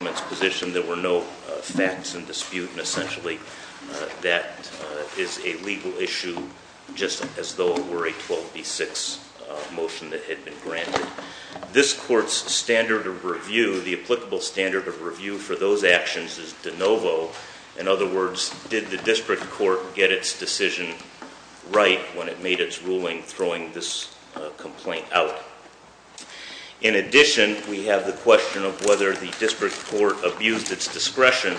position there were no facts in dispute and essentially that is a legal issue just as though it were a 12b6 motion that had been granted. This court's standard of review, the applicable standard of review for those actions is de novo. In other words, did the district court get its decision right when it made its ruling throwing this complaint out? In addition, we have the question of whether the district court abused its discretion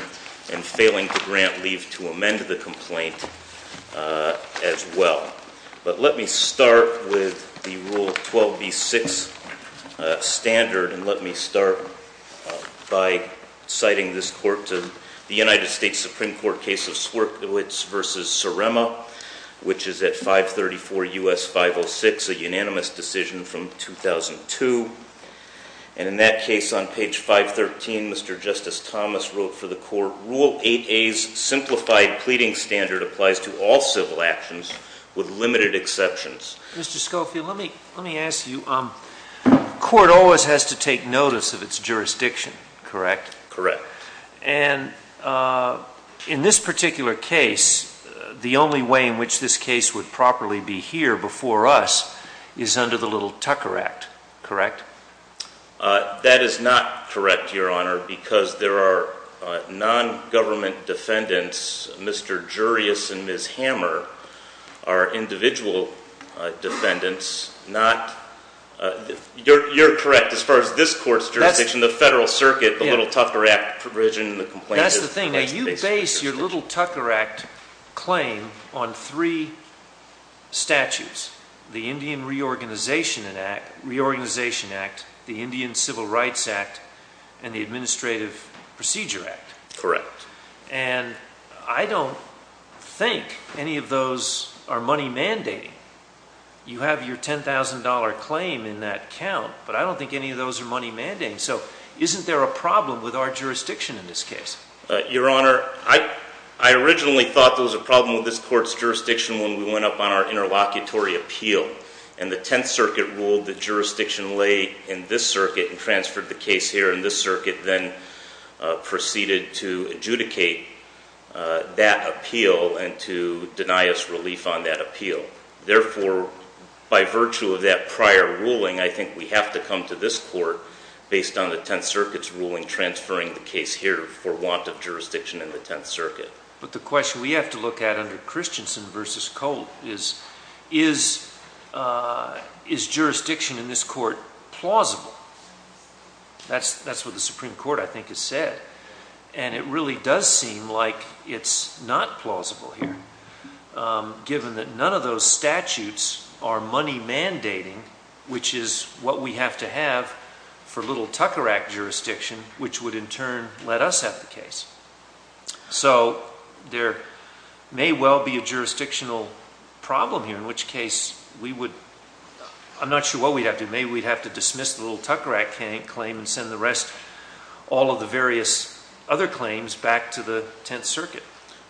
in failing to grant leave to amend the complaint as well. But let me start with the rule 12b6 standard and let me start by citing this court to the United States Supreme Court case of Swierkiewicz v. Sarema, which is at 534 U.S. 506, a unanimous decision from 2002. And in that case on page 513, Mr. Justice Thomas wrote for the court, Rule 8a's simplified pleading standard applies to all civil actions with limited exceptions. Mr. Schofield, let me ask you, the court always has to take notice of its jurisdiction, correct? Correct. And in this particular case, the only way in which this case would properly be here before us is under the little Tucker Act, correct? That is not correct, Your Honor, because there are non-government defendants, Mr. Jurius and Ms. Hammer, are individual defendants, not, you're correct as far as this court's jurisdiction, the federal circuit, the little Tucker Act provision, the complaint. That's the thing, you base your little Tucker Act claim on three statutes, the Indian Reorganization Act, the Indian Civil Rights Act, and the Administrative Procedure Act. Correct. And I don't think any of those are money mandating. You have your $10,000 claim in that count, but I don't think any of those are money mandating, so isn't there a problem with our jurisdiction in this case? Your Honor, I originally thought there was a jurisdiction when we went up on our interlocutory appeal, and the Tenth Circuit ruled that jurisdiction lay in this circuit and transferred the case here in this circuit, then proceeded to adjudicate that appeal and to deny us relief on that appeal. Therefore, by virtue of that prior ruling, I think we have to come to this court based on the Tenth Circuit's ruling transferring the case here for want of jurisdiction in the Tenth Circuit. But the question we have to look at under Christensen v. Cole is, is jurisdiction in this court plausible? That's what the Supreme Court, I think, has said. And it really does seem like it's not plausible here, given that none of those statutes are money mandating, which is what we have to have for little Tucker Act jurisdiction, which would in turn let us have the case. So there may well be a jurisdictional problem here, in which case we would, I'm not sure what we'd have to do, maybe we'd have to dismiss the little Tucker Act claim and send the rest, all of the various other claims, back to the Tenth Circuit.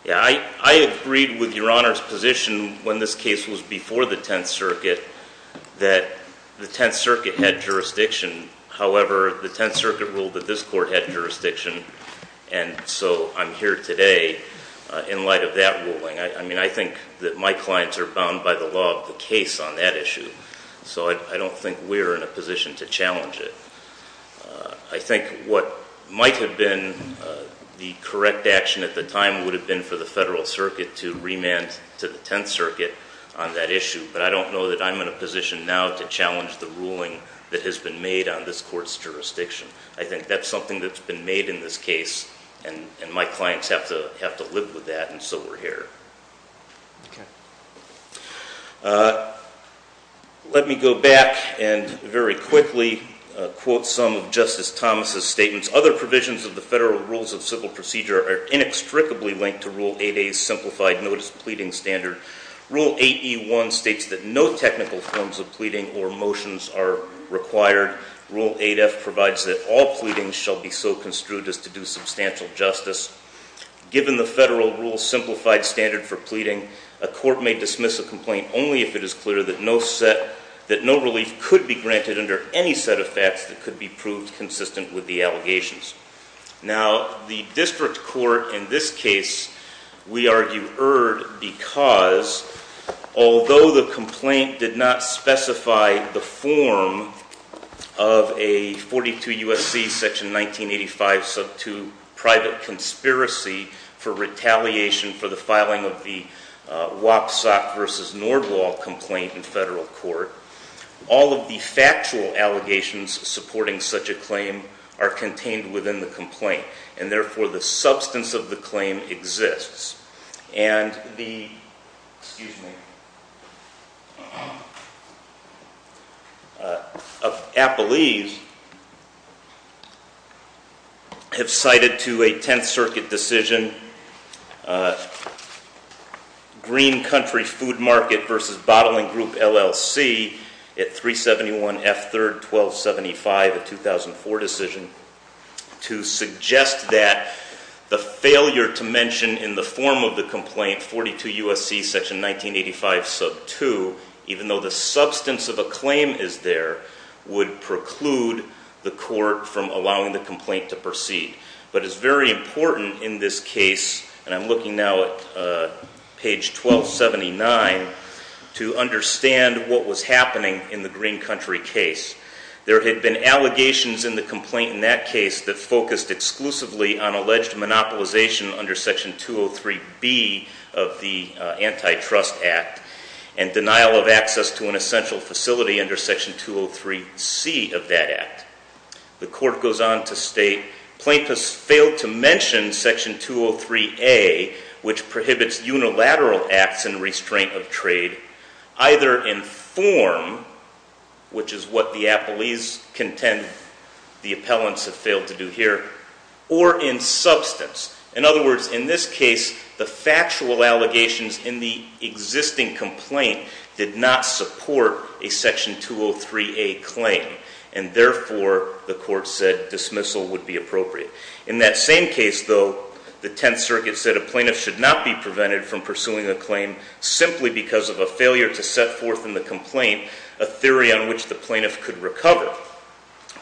Yeah, I agreed with Your Honor's position when this case was before the Tenth Circuit that the Tenth Circuit ruled that this court had jurisdiction, and so I'm here today in light of that ruling. I mean, I think that my clients are bound by the law of the case on that issue, so I don't think we're in a position to challenge it. I think what might have been the correct action at the time would have been for the Federal Circuit to remand to the Tenth Circuit on that issue, but I don't know that I'm in a position now to challenge the ruling that has been made on this court's jurisdiction. I think that's something that's been made in this case, and my clients have to have to live with that, and so we're here. Let me go back and very quickly quote some of Justice Thomas's statements. Other provisions of the Federal Rules of Civil Procedure are inextricably linked to Rule 8A's simplified notice pleading standard. Rule 8E1 states that no relief. Rule 8F provides that all pleadings shall be so construed as to do substantial justice. Given the Federal Rules' simplified standard for pleading, a court may dismiss a complaint only if it is clear that no relief could be granted under any set of facts that could be proved consistent with the allegations. Now, the district court in this case, we argue, erred because although the complaint did not specify the form of a 42 U.S.C. section 1985 sub 2 private conspiracy for retaliation for the filing of the Wapsack versus Nordwall complaint in federal court, all of the factual allegations supporting such a claim are contained within the complaint, and therefore the substance of the claim exists. And the, excuse me, of Applees have cited to a 10th circuit decision Green Country Food Market versus Bottling Group, LLC at 371 F3rd 1275 of 2004 decision, to suggest that the failure to mention in the form of the complaint 42 U.S.C. section 1985 sub 2, even though the substance of a claim is there, would preclude the court from allowing the complaint to proceed. But it's very important in this case, and I'm looking now at page 1279, to look at the allegations in the complaint in that case that focused exclusively on alleged monopolization under section 203 B of the antitrust act and denial of access to an essential facility under section 203 C of that act. The court goes on to state, plaintiffs failed to mention section 203 A, which prohibits unilateral acts and restraint of trade, either in form, which is what the appellants have failed to do here, or in substance. In other words, in this case, the factual allegations in the existing complaint did not support a section 203 A claim. And therefore the court said dismissal would be appropriate. In that same case, though, the 10th circuit said a plaintiff should not be prevented from pursuing a claim simply because of a failure to set forth in the complaint a theory on which the plaintiff could recover,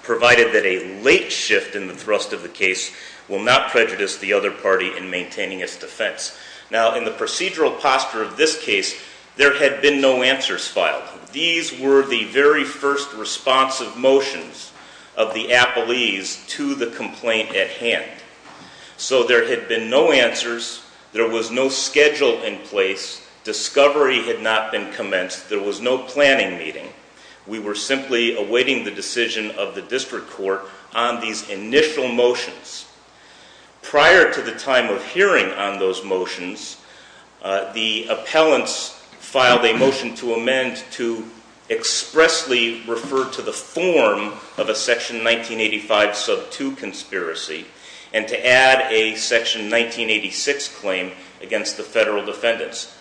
provided that a late shift in the thrust of the case will not prejudice the other party in maintaining its defense. Now, in the procedural posture of this case, there had been no answers filed. These were the very first responsive motions of the appellees to the complaint at hand. So there had been no schedule in place. Discovery had not been commenced. There was no planning meeting. We were simply awaiting the decision of the district court on these initial motions. Prior to the time of hearing on those motions, the appellants filed a motion to amend to expressly refer to the form of a section 1985 sub 2 conspiracy and to add a section 1986 claim against the federal defendants.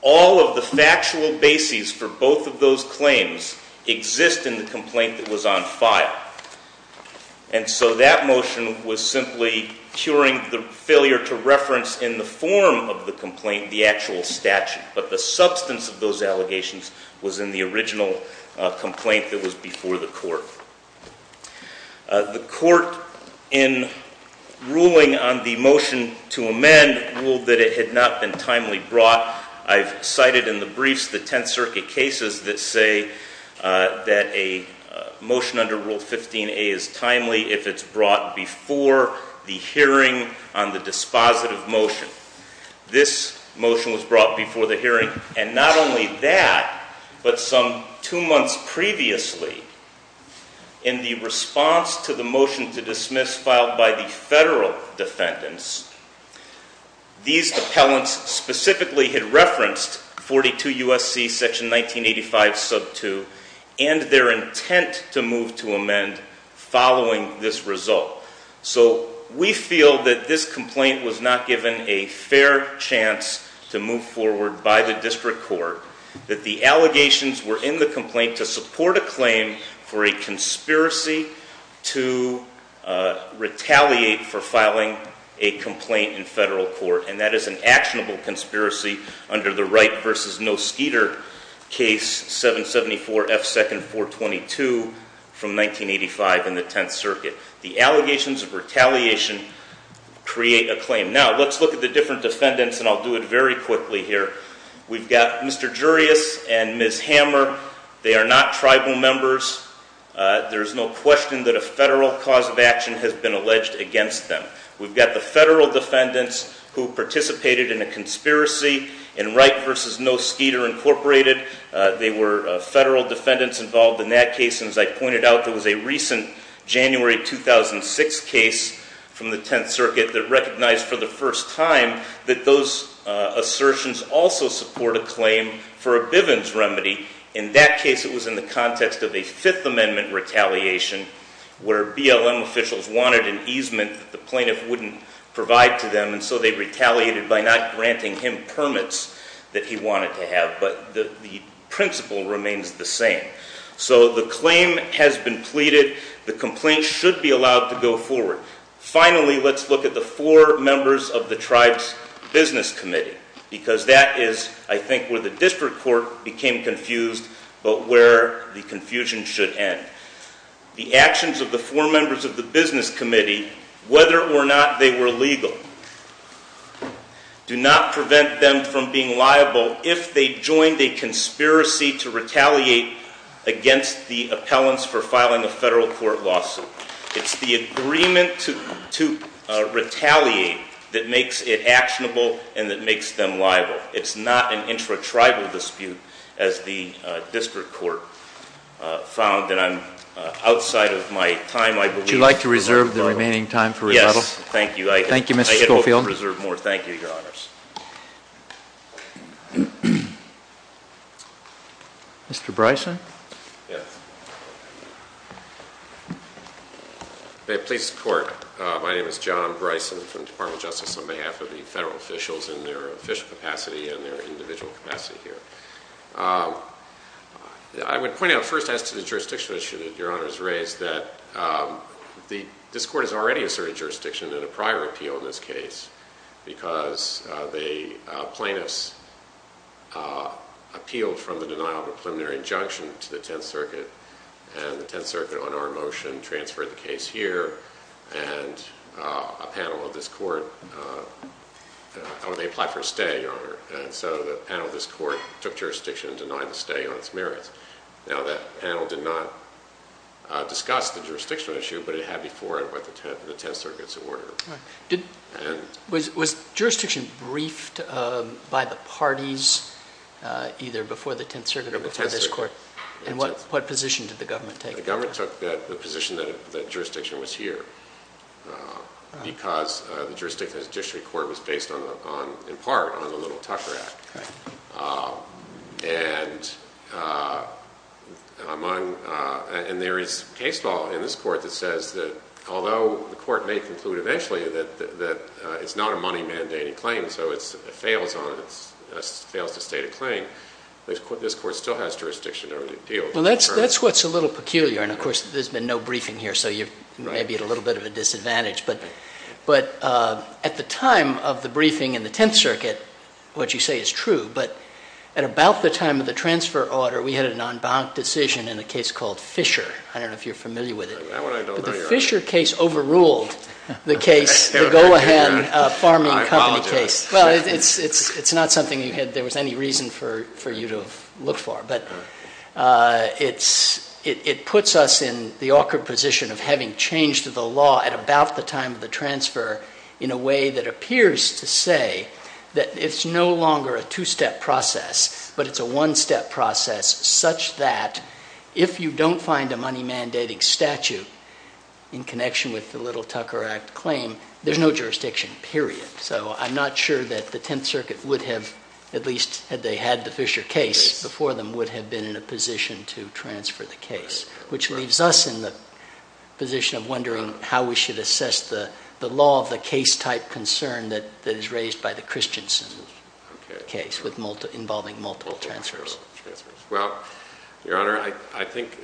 All of the factual bases for both of those claims exist in the complaint that was on file. And so that motion was simply curing the failure to reference in the form of the complaint the actual statute. But the substance of those in ruling on the motion to amend ruled that it had not been timely brought. I've cited in the briefs the Tenth Circuit cases that say that a motion under Rule 15a is timely if it's brought before the hearing on the dispositive motion. This motion was brought before the hearing. And not only that, but some two months previously in the response to the motion to dismiss filed by the federal defendants, these appellants specifically had referenced 42 U.S.C. section 1985 sub 2 and their intent to move to amend following this result. So we feel that this complaint was not given a fair chance to move forward by the district court, that the allegations were in the complaint to support a claim for a conspiracy to retaliate for filing a complaint in federal court. And that is an actionable conspiracy under the Wright v. Noskeeter case 774 F. 2nd 422 from 1985 in the Tenth Circuit. The allegations of retaliation create a claim. Now let's look at the different defendants and I'll do it very quickly here. We've got Mr. Jurius and Ms. Hammer. They are not tribal members. There's no question that a federal cause of action has been alleged against them. We've got the federal defendants who participated in a conspiracy in Wright v. Noskeeter Incorporated. They were federal defendants involved in that case. And as I pointed out, there was a recent January 2006 case from the Tenth Circuit that recognized for the first time that those assertions also support a claim for a Bivens remedy. In that case it was in the context of a Fifth Amendment retaliation where BLM officials wanted an easement that the plaintiff wouldn't provide to them and so they retaliated by not granting him permits that he wanted to have. But the principle remains the same. So the claim has been pleaded. The complaint should be allowed to go forward. Finally, let's look at the four members of the tribe's business committee because that is, I think, where the district court became confused but where the confusion should end. The actions of the four members of the business committee, whether or not they were legal, do not prevent them from being liable if they joined a conspiracy to retaliate against the appellants for filing a federal court lawsuit. It's the agreement to retaliate that makes it actionable and that makes them liable. It's not an intra-tribal dispute as the district court found. And I'm outside of my time, I believe. Would you like to reserve the remaining time for rebuttal? Yes, thank you. Thank you, Mr. Schofield. I hope to reserve more. Thank you, Your Honors. Mr. Bryson? Yes. May it please the Court, my name is John Bryson from the Department of Justice on behalf of the federal officials in their official capacity and their individual capacity here. I would point out first as to the jurisdiction issue that Your Honor has raised that this court has already asserted jurisdiction in a prior appeal in this case because the plaintiffs appealed from the denial of a preliminary injunction to the Tenth Circuit and the Tenth Circuit on our motion transferred the case here and a panel of this court, or they applied for a stay, Your Honor, and so the panel of this court took jurisdiction and denied the stay on its merits. Now that panel did not discuss the jurisdictional issue, but it had before it what the Tenth Circuit's order. Was jurisdiction briefed by the parties either before the Tenth Circuit or before this court? And what position did the government take? The government took the position that jurisdiction was here because the jurisdiction of the court was based on, in part, on the Little Tucker Act. And there is case law in this court that says that although the court may conclude eventually that it's not a money-mandating claim, so it fails to state a claim, this court still has jurisdiction over the appeal. Well, that's what's a little peculiar. And of course, there's been no briefing here, so you may be at a little bit of a disadvantage. But at the time of the briefing in the Tenth Circuit, what you say is true, but at about the time of the transfer order, we had an en banc decision in a case called Fisher. I don't know if you're familiar with it. That one I don't know, Your Honor. It puts us in the awkward position of having changed the law at about the time of the transfer in a way that appears to say that it's no longer a two-step process, but it's a one-step process such that if you don't find a money-mandating statute in connection with the Little Tucker Act claim, there's no jurisdiction, period. So I'm not sure that the Tenth Circuit would have, at least had they had the Fisher case before them, would have been in a position to transfer the case, which leaves us in the position of wondering how we should assess the law of the case-type concern that is raised by the Christensen case involving multiple transfers. Well, Your Honor, I think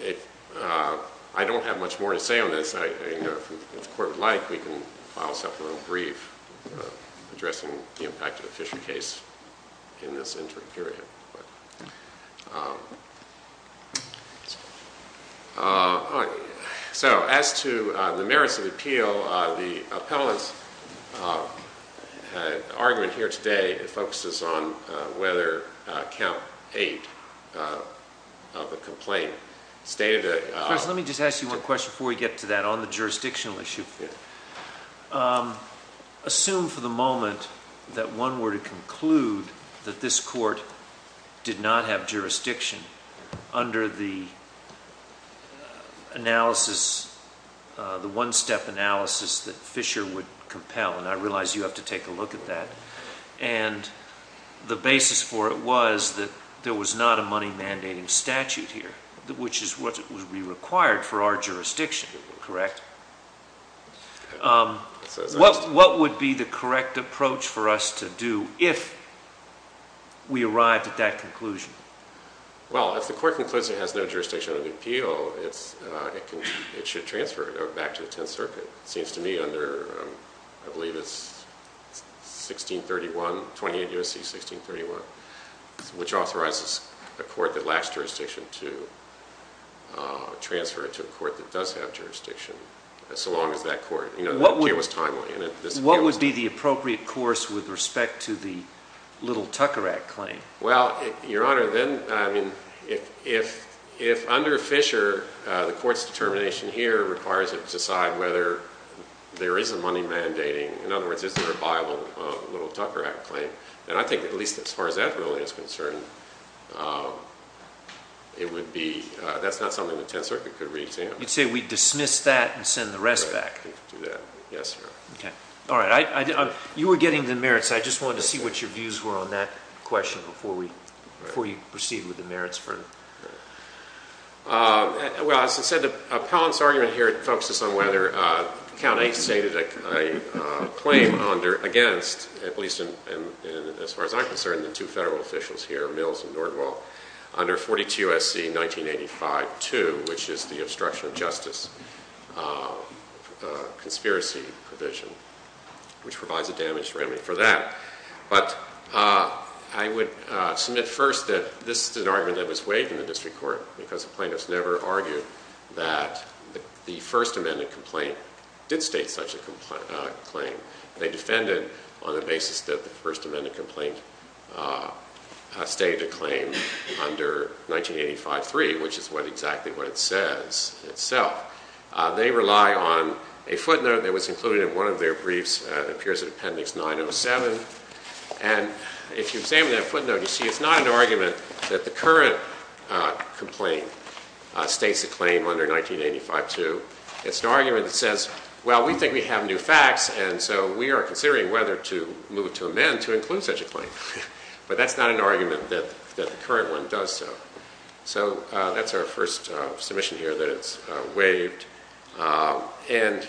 I don't have much more to say on this. If the Court would like, we can file a supplemental brief addressing the impact of the Fisher case in this interim period. So, as to the merits of appeal, the appellant's argument here today focuses on whether Count 8 of the complaint stated a... did not have jurisdiction under the analysis, the one-step analysis that Fisher would compel. And I realize you have to take a look at that. And the basis for it was that there was not a money-mandating statute here, which is what would be required for our jurisdiction, correct? What would be the correct approach for us to do if we arrived at that conclusion? Well, if the Court concludes it has no jurisdiction under the appeal, it should transfer it back to the Tenth Circuit. It seems to me under, I believe it's 1631, 28 U.S.C. 1631, which authorizes a court that lacks jurisdiction to transfer it to a court that does have jurisdiction, so long as that court... What would be the appropriate course with respect to the little Tucker Act claim? Well, Your Honor, then, I mean, if under Fisher, the Court's determination here requires it to decide whether there is a money-mandating, in other words, is there a viable little Tucker Act claim, then I think at least as far as that really is concerned, it would be... that's not something the Tenth Circuit could re-examine. You'd say we'd dismiss that and send the rest back. Yes, sir. Okay. All right. You were getting the merits. I just wanted to see what your views were on that question before we proceed with the merits. Well, as I said, the appellant's argument here focuses on whether Count A stated a claim against, at least as far as I'm concerned, the two federal officials here, Mills and Nordwall, under 42 U.S.C. 1985-2, which is the obstruction of justice conspiracy provision, which provides a damage remedy for that. But I would submit first that this is an argument that was waived in the district court because the plaintiffs never argued that the First Amendment complaint did state such a claim. They defended on the basis that the First Amendment complaint stated a claim under 1985-3, which is exactly what it says itself. They rely on a footnote that was included in one of their briefs that appears in Appendix 907. And if you examine that footnote, you see it's not an argument that the current complaint states a claim under 1985-2. It's an argument that says, well, we think we have new facts, and so we are considering whether to move to amend to include such a claim. But that's not an argument that the current one does so. So that's our first submission here that it's waived. And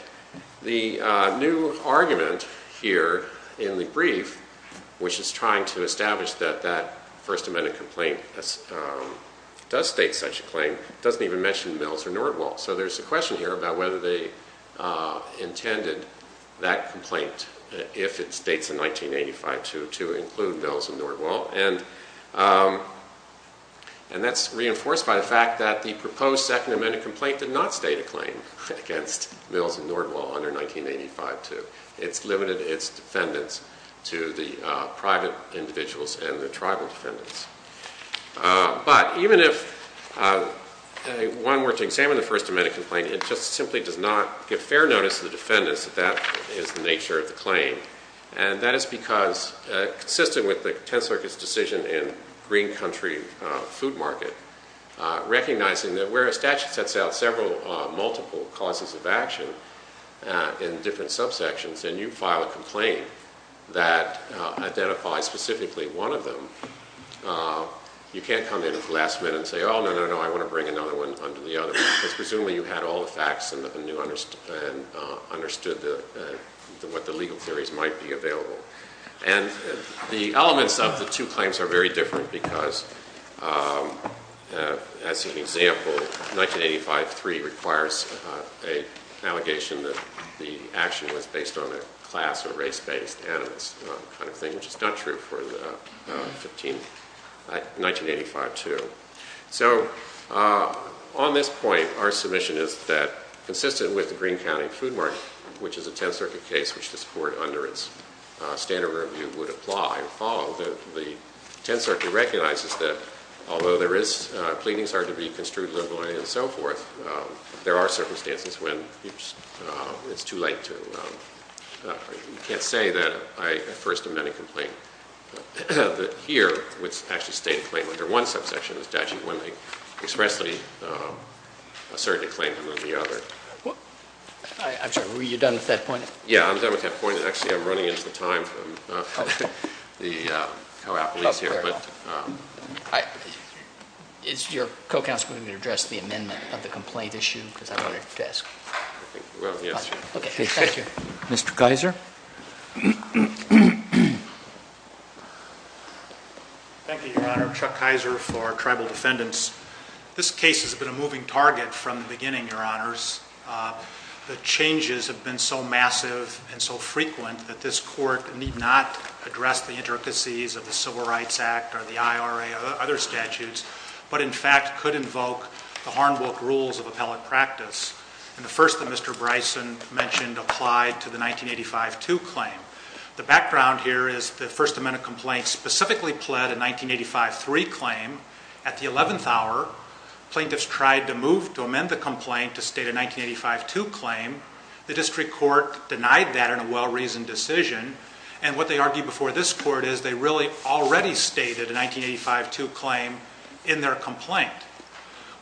the new argument here in the brief, which is trying to establish that that First Amendment complaint does state such a claim, doesn't even mention Mills or Nordwall. So there's a question here about whether they intended that complaint, if it states in 1985-2, to include Mills and Nordwall. And that's reinforced by the fact that the proposed Second Amendment complaint did not state a claim against Mills and Nordwall under 1985-2. It's limited its defendants to the private individuals and the tribal defendants. But even if one were to examine the First Amendment complaint, it just simply does not give fair notice to the defendants that that is the nature of the claim. And that is because, consistent with the Tenth Circuit's decision in Green Country Food Market, recognizing that where a statute sets out several multiple causes of action in different subsections, and you file a complaint that identifies specifically one of them, you can't come in at the last minute and say, oh, no, no, no, I want to bring another one under the other. Because presumably you had all the facts and understood what the legal theories might be available. And the elements of the two claims are very different because, as an example, 1985-3 requires an allegation that the action was based on a class or race-based animus kind of thing, which is not true for 1985-2. So, on this point, our submission is that, consistent with the Green County Food Market, which is a Tenth Circuit case, which this Court, under its standard review, would apply and follow, the Tenth Circuit recognizes that, although there is pleadings are to be construed legally and so forth, there are circumstances when it's too late to, you can't say that I first amend a complaint. But here, which actually stayed in claim under one subsection, there's actually one that expressly asserted a claim under the other. I'm sorry, were you done with that point? Yeah, I'm done with that point, and actually I'm running into the time from the co-applicants here. Is your co-counsel going to address the amendment of the complaint issue? Because I wanted to ask. Well, yes. Okay, thank you. Mr. Kaiser? Thank you, Your Honor. Chuck Kaiser for Tribal Defendants. This case has been a moving target from the beginning, Your Honors. The changes have been so massive and so frequent that this Court need not address the intricacies of the Civil Rights Act or the IRA or other statutes, but in fact could invoke the Harnbrook Rules of Appellate Practice, and the first that Mr. Bryson mentioned applied to the 1985-2 claim. The background here is the first amendment complaint specifically pled a 1985-3 claim. At the 11th hour, plaintiffs tried to move to amend the complaint to state a 1985-2 claim. The District Court denied that in a well-reasoned decision. And what they argued before this Court is they really already stated a 1985-2 claim in their complaint.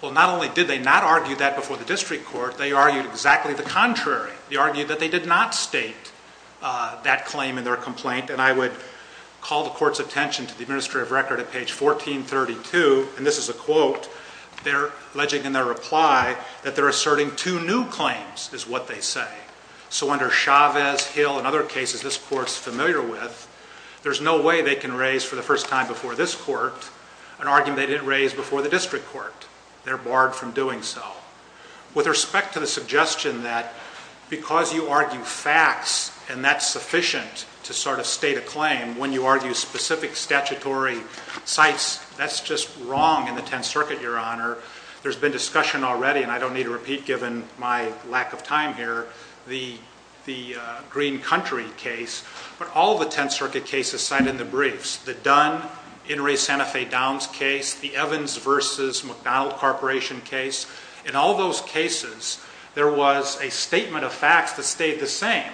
Well, not only did they not argue that before the District Court, they argued exactly the contrary. They argued that they did not state that claim in their complaint. And I would call the Court's attention to the administrative record at page 1432, and this is a quote. They're alleging in their reply that they're asserting two new claims is what they say. So under Chavez, Hill, and other cases this Court's familiar with, there's no way they can raise for the first time before this Court an argument they didn't raise before the District Court. They're barred from doing so. With respect to the suggestion that because you argue facts and that's sufficient to sort of state a claim, when you argue specific statutory sites, that's just wrong in the Tenth Circuit, Your Honor. There's been discussion already, and I don't need to repeat given my lack of time here, the Green Country case. But all the Tenth Circuit cases cited in the briefs, the Dunn-Inres-Santa Fe Downs case, the Evans v. McDonald Corporation case, in all those cases there was a statement of facts that stayed the same.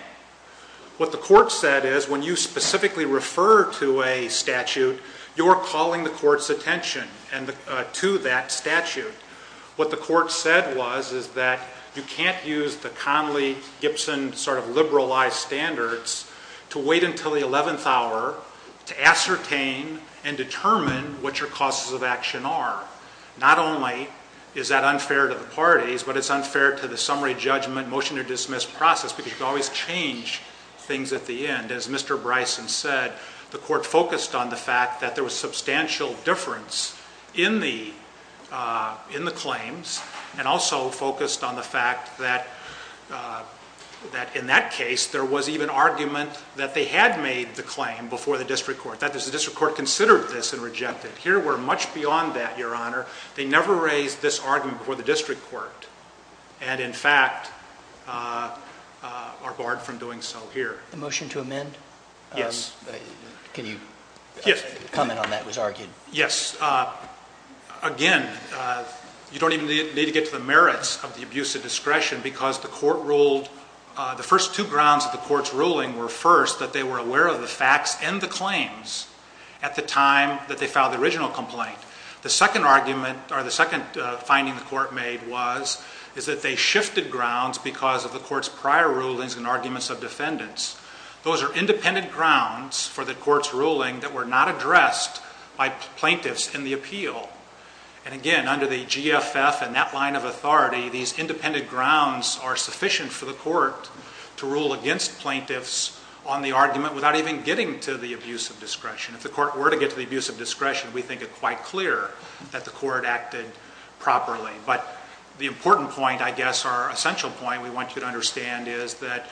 What the Court said is when you specifically refer to a statute, you're calling the Court's attention to that statute. What the Court said was is that you can't use the Conley-Gibson sort of liberalized standards to wait until the 11th hour to ascertain and determine what your causes of action are. Not only is that unfair to the parties, but it's unfair to the summary judgment motion to dismiss process because you can always change things at the end. And as Mr. Bryson said, the Court focused on the fact that there was substantial difference in the claims and also focused on the fact that in that case there was even argument that they had made the claim before the district court, that the district court considered this and rejected it. Here we're much beyond that, Your Honor. They never raised this argument before the district court, and in fact are barred from doing so here. The motion to amend? Yes. Can you comment on that? It was argued. Yes. Again, you don't even need to get to the merits of the abuse of discretion because the Court ruled, the first two grounds of the Court's ruling were first that they were aware of the facts and the claims at the time that they filed the original complaint. The second argument, or the second finding the Court made was, is that they shifted grounds because of the Court's prior rulings and arguments of defendants. Those are independent grounds for the Court's ruling that were not addressed by plaintiffs in the appeal. And again, under the GFF and that line of authority, these independent grounds are sufficient for the Court to rule against plaintiffs on the argument without even getting to the abuse of discretion. If the Court were to get to the abuse of discretion, we think it quite clear that the Court acted properly. But the important point, I guess our essential point we want you to understand, is that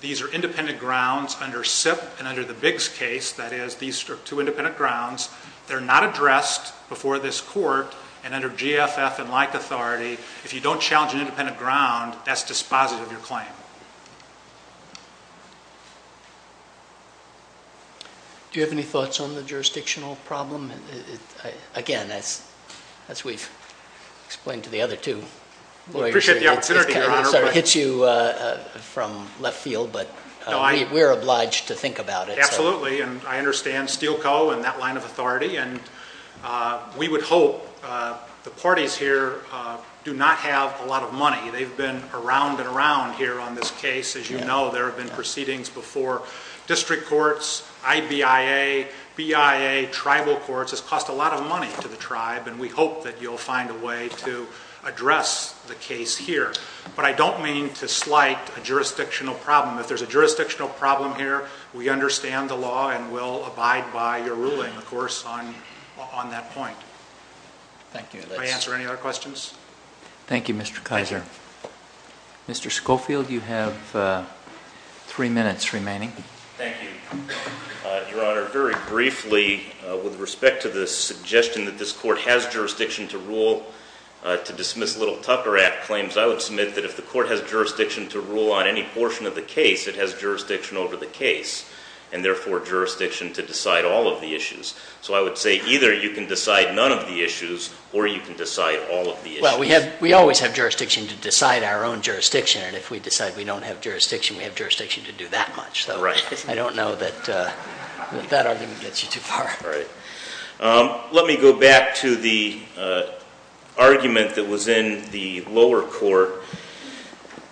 these are independent grounds under SIPP and under the Biggs case. That is, these are two independent grounds. They're not addressed before this Court, and under GFF and like authority, if you don't challenge an independent ground, that's dispositive of your claim. Do you have any thoughts on the jurisdictional problem? Again, as we've explained to the other two lawyers here, it kind of hits you from left field, but we're obliged to think about it. Absolutely, and I understand Steele Co. and that line of authority, and we would hope the parties here do not have a lot of money. They've been around and around here on this case. As you know, there have been proceedings before district courts, IBIA, BIA, tribal courts. It's cost a lot of money to the tribe, and we hope that you'll find a way to address the case here. But I don't mean to slight a jurisdictional problem. If there's a jurisdictional problem here, we understand the law and will abide by your ruling, of course, on that point. Thank you. May I answer any other questions? Thank you, Mr. Kaiser. Mr. Schofield, you have three minutes remaining. Thank you, Your Honor. Very briefly, with respect to the suggestion that this court has jurisdiction to rule to dismiss Little Tucker Act claims, I would submit that if the court has jurisdiction to rule on any portion of the case, it has jurisdiction over the case, and therefore jurisdiction to decide all of the issues. So I would say either you can decide none of the issues or you can decide all of the issues. Well, we always have jurisdiction to decide our own jurisdiction, and if we decide we don't have jurisdiction, we have jurisdiction to do that much. I don't know that that argument gets you too far. Let me go back to the argument that was in the lower court.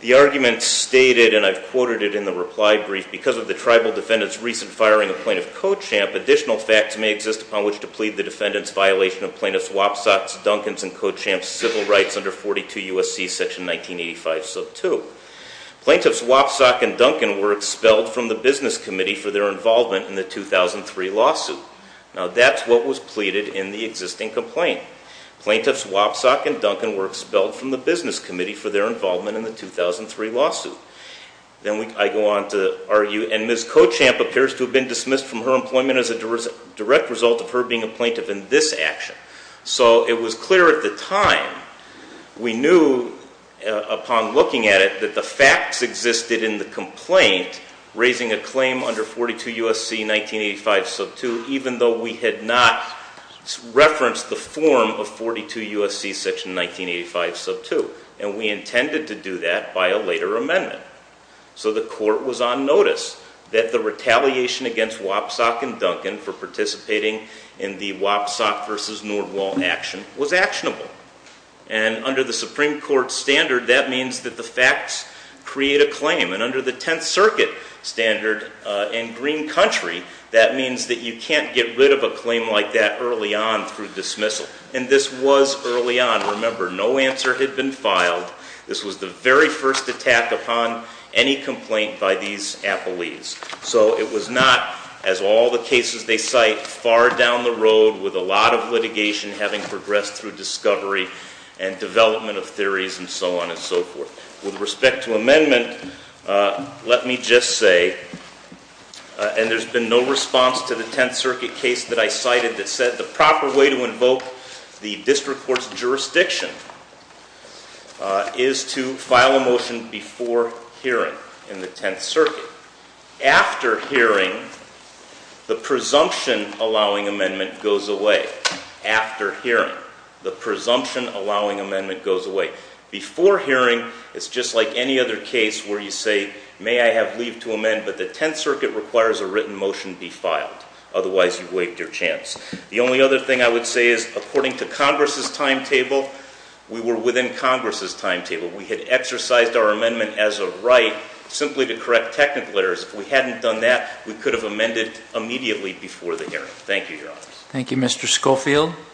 The argument stated, and I've quoted it in the reply brief, because of the tribal defendant's recent firing of plaintiff Cochamp, additional facts may exist upon which to plead the defendant's violation of plaintiff Wapsock's, Duncan's, and Cochamp's civil rights under 42 U.S.C. section 1985 sub 2. Plaintiffs Wapsock and Duncan were expelled from the business committee for their involvement in the 2003 lawsuit. Now that's what was pleaded in the existing complaint. Plaintiffs Wapsock and Duncan were expelled from the business committee for their involvement in the 2003 lawsuit. Then I go on to argue, and Ms. Cochamp appears to have been dismissed from her employment as a direct result of her being a plaintiff in this action. So it was clear at the time, we knew upon looking at it, that the facts existed in the complaint raising a claim under 42 U.S.C. 1985 sub 2, even though we had not referenced the form of 42 U.S.C. section 1985 sub 2, and we intended to do that by a later amendment. So the court was on notice that the retaliation against Wapsock and Duncan for participating in the Wapsock v. Nordwall action was actionable. And under the Supreme Court standard, that means that the facts create a claim. And under the Tenth Circuit standard in green country, that means that you can't get rid of a claim like that early on through dismissal. And this was early on. Remember, no answer had been filed. This was the very first attack upon any complaint by these appellees. So it was not, as all the cases they cite, far down the road with a lot of litigation having progressed through discovery and development of theories and so on and so forth. With respect to amendment, let me just say, and there's been no response to the Tenth Circuit case that I cited that said the proper way to invoke the district court's jurisdiction is to file a motion before hearing in the Tenth Circuit. After hearing, the presumption allowing amendment goes away. After hearing, the presumption allowing amendment goes away. Before hearing, it's just like any other case where you say, may I have leave to amend, but the Tenth Circuit requires a written motion be filed. Otherwise, you've waived your chance. The only other thing I would say is, according to Congress's timetable, we were within Congress's timetable. We had exercised our amendment as a right simply to correct technical errors. If we hadn't done that, we could have amended immediately before the hearing. Thank you, Your Honor. Thank you, Mr. Schofield.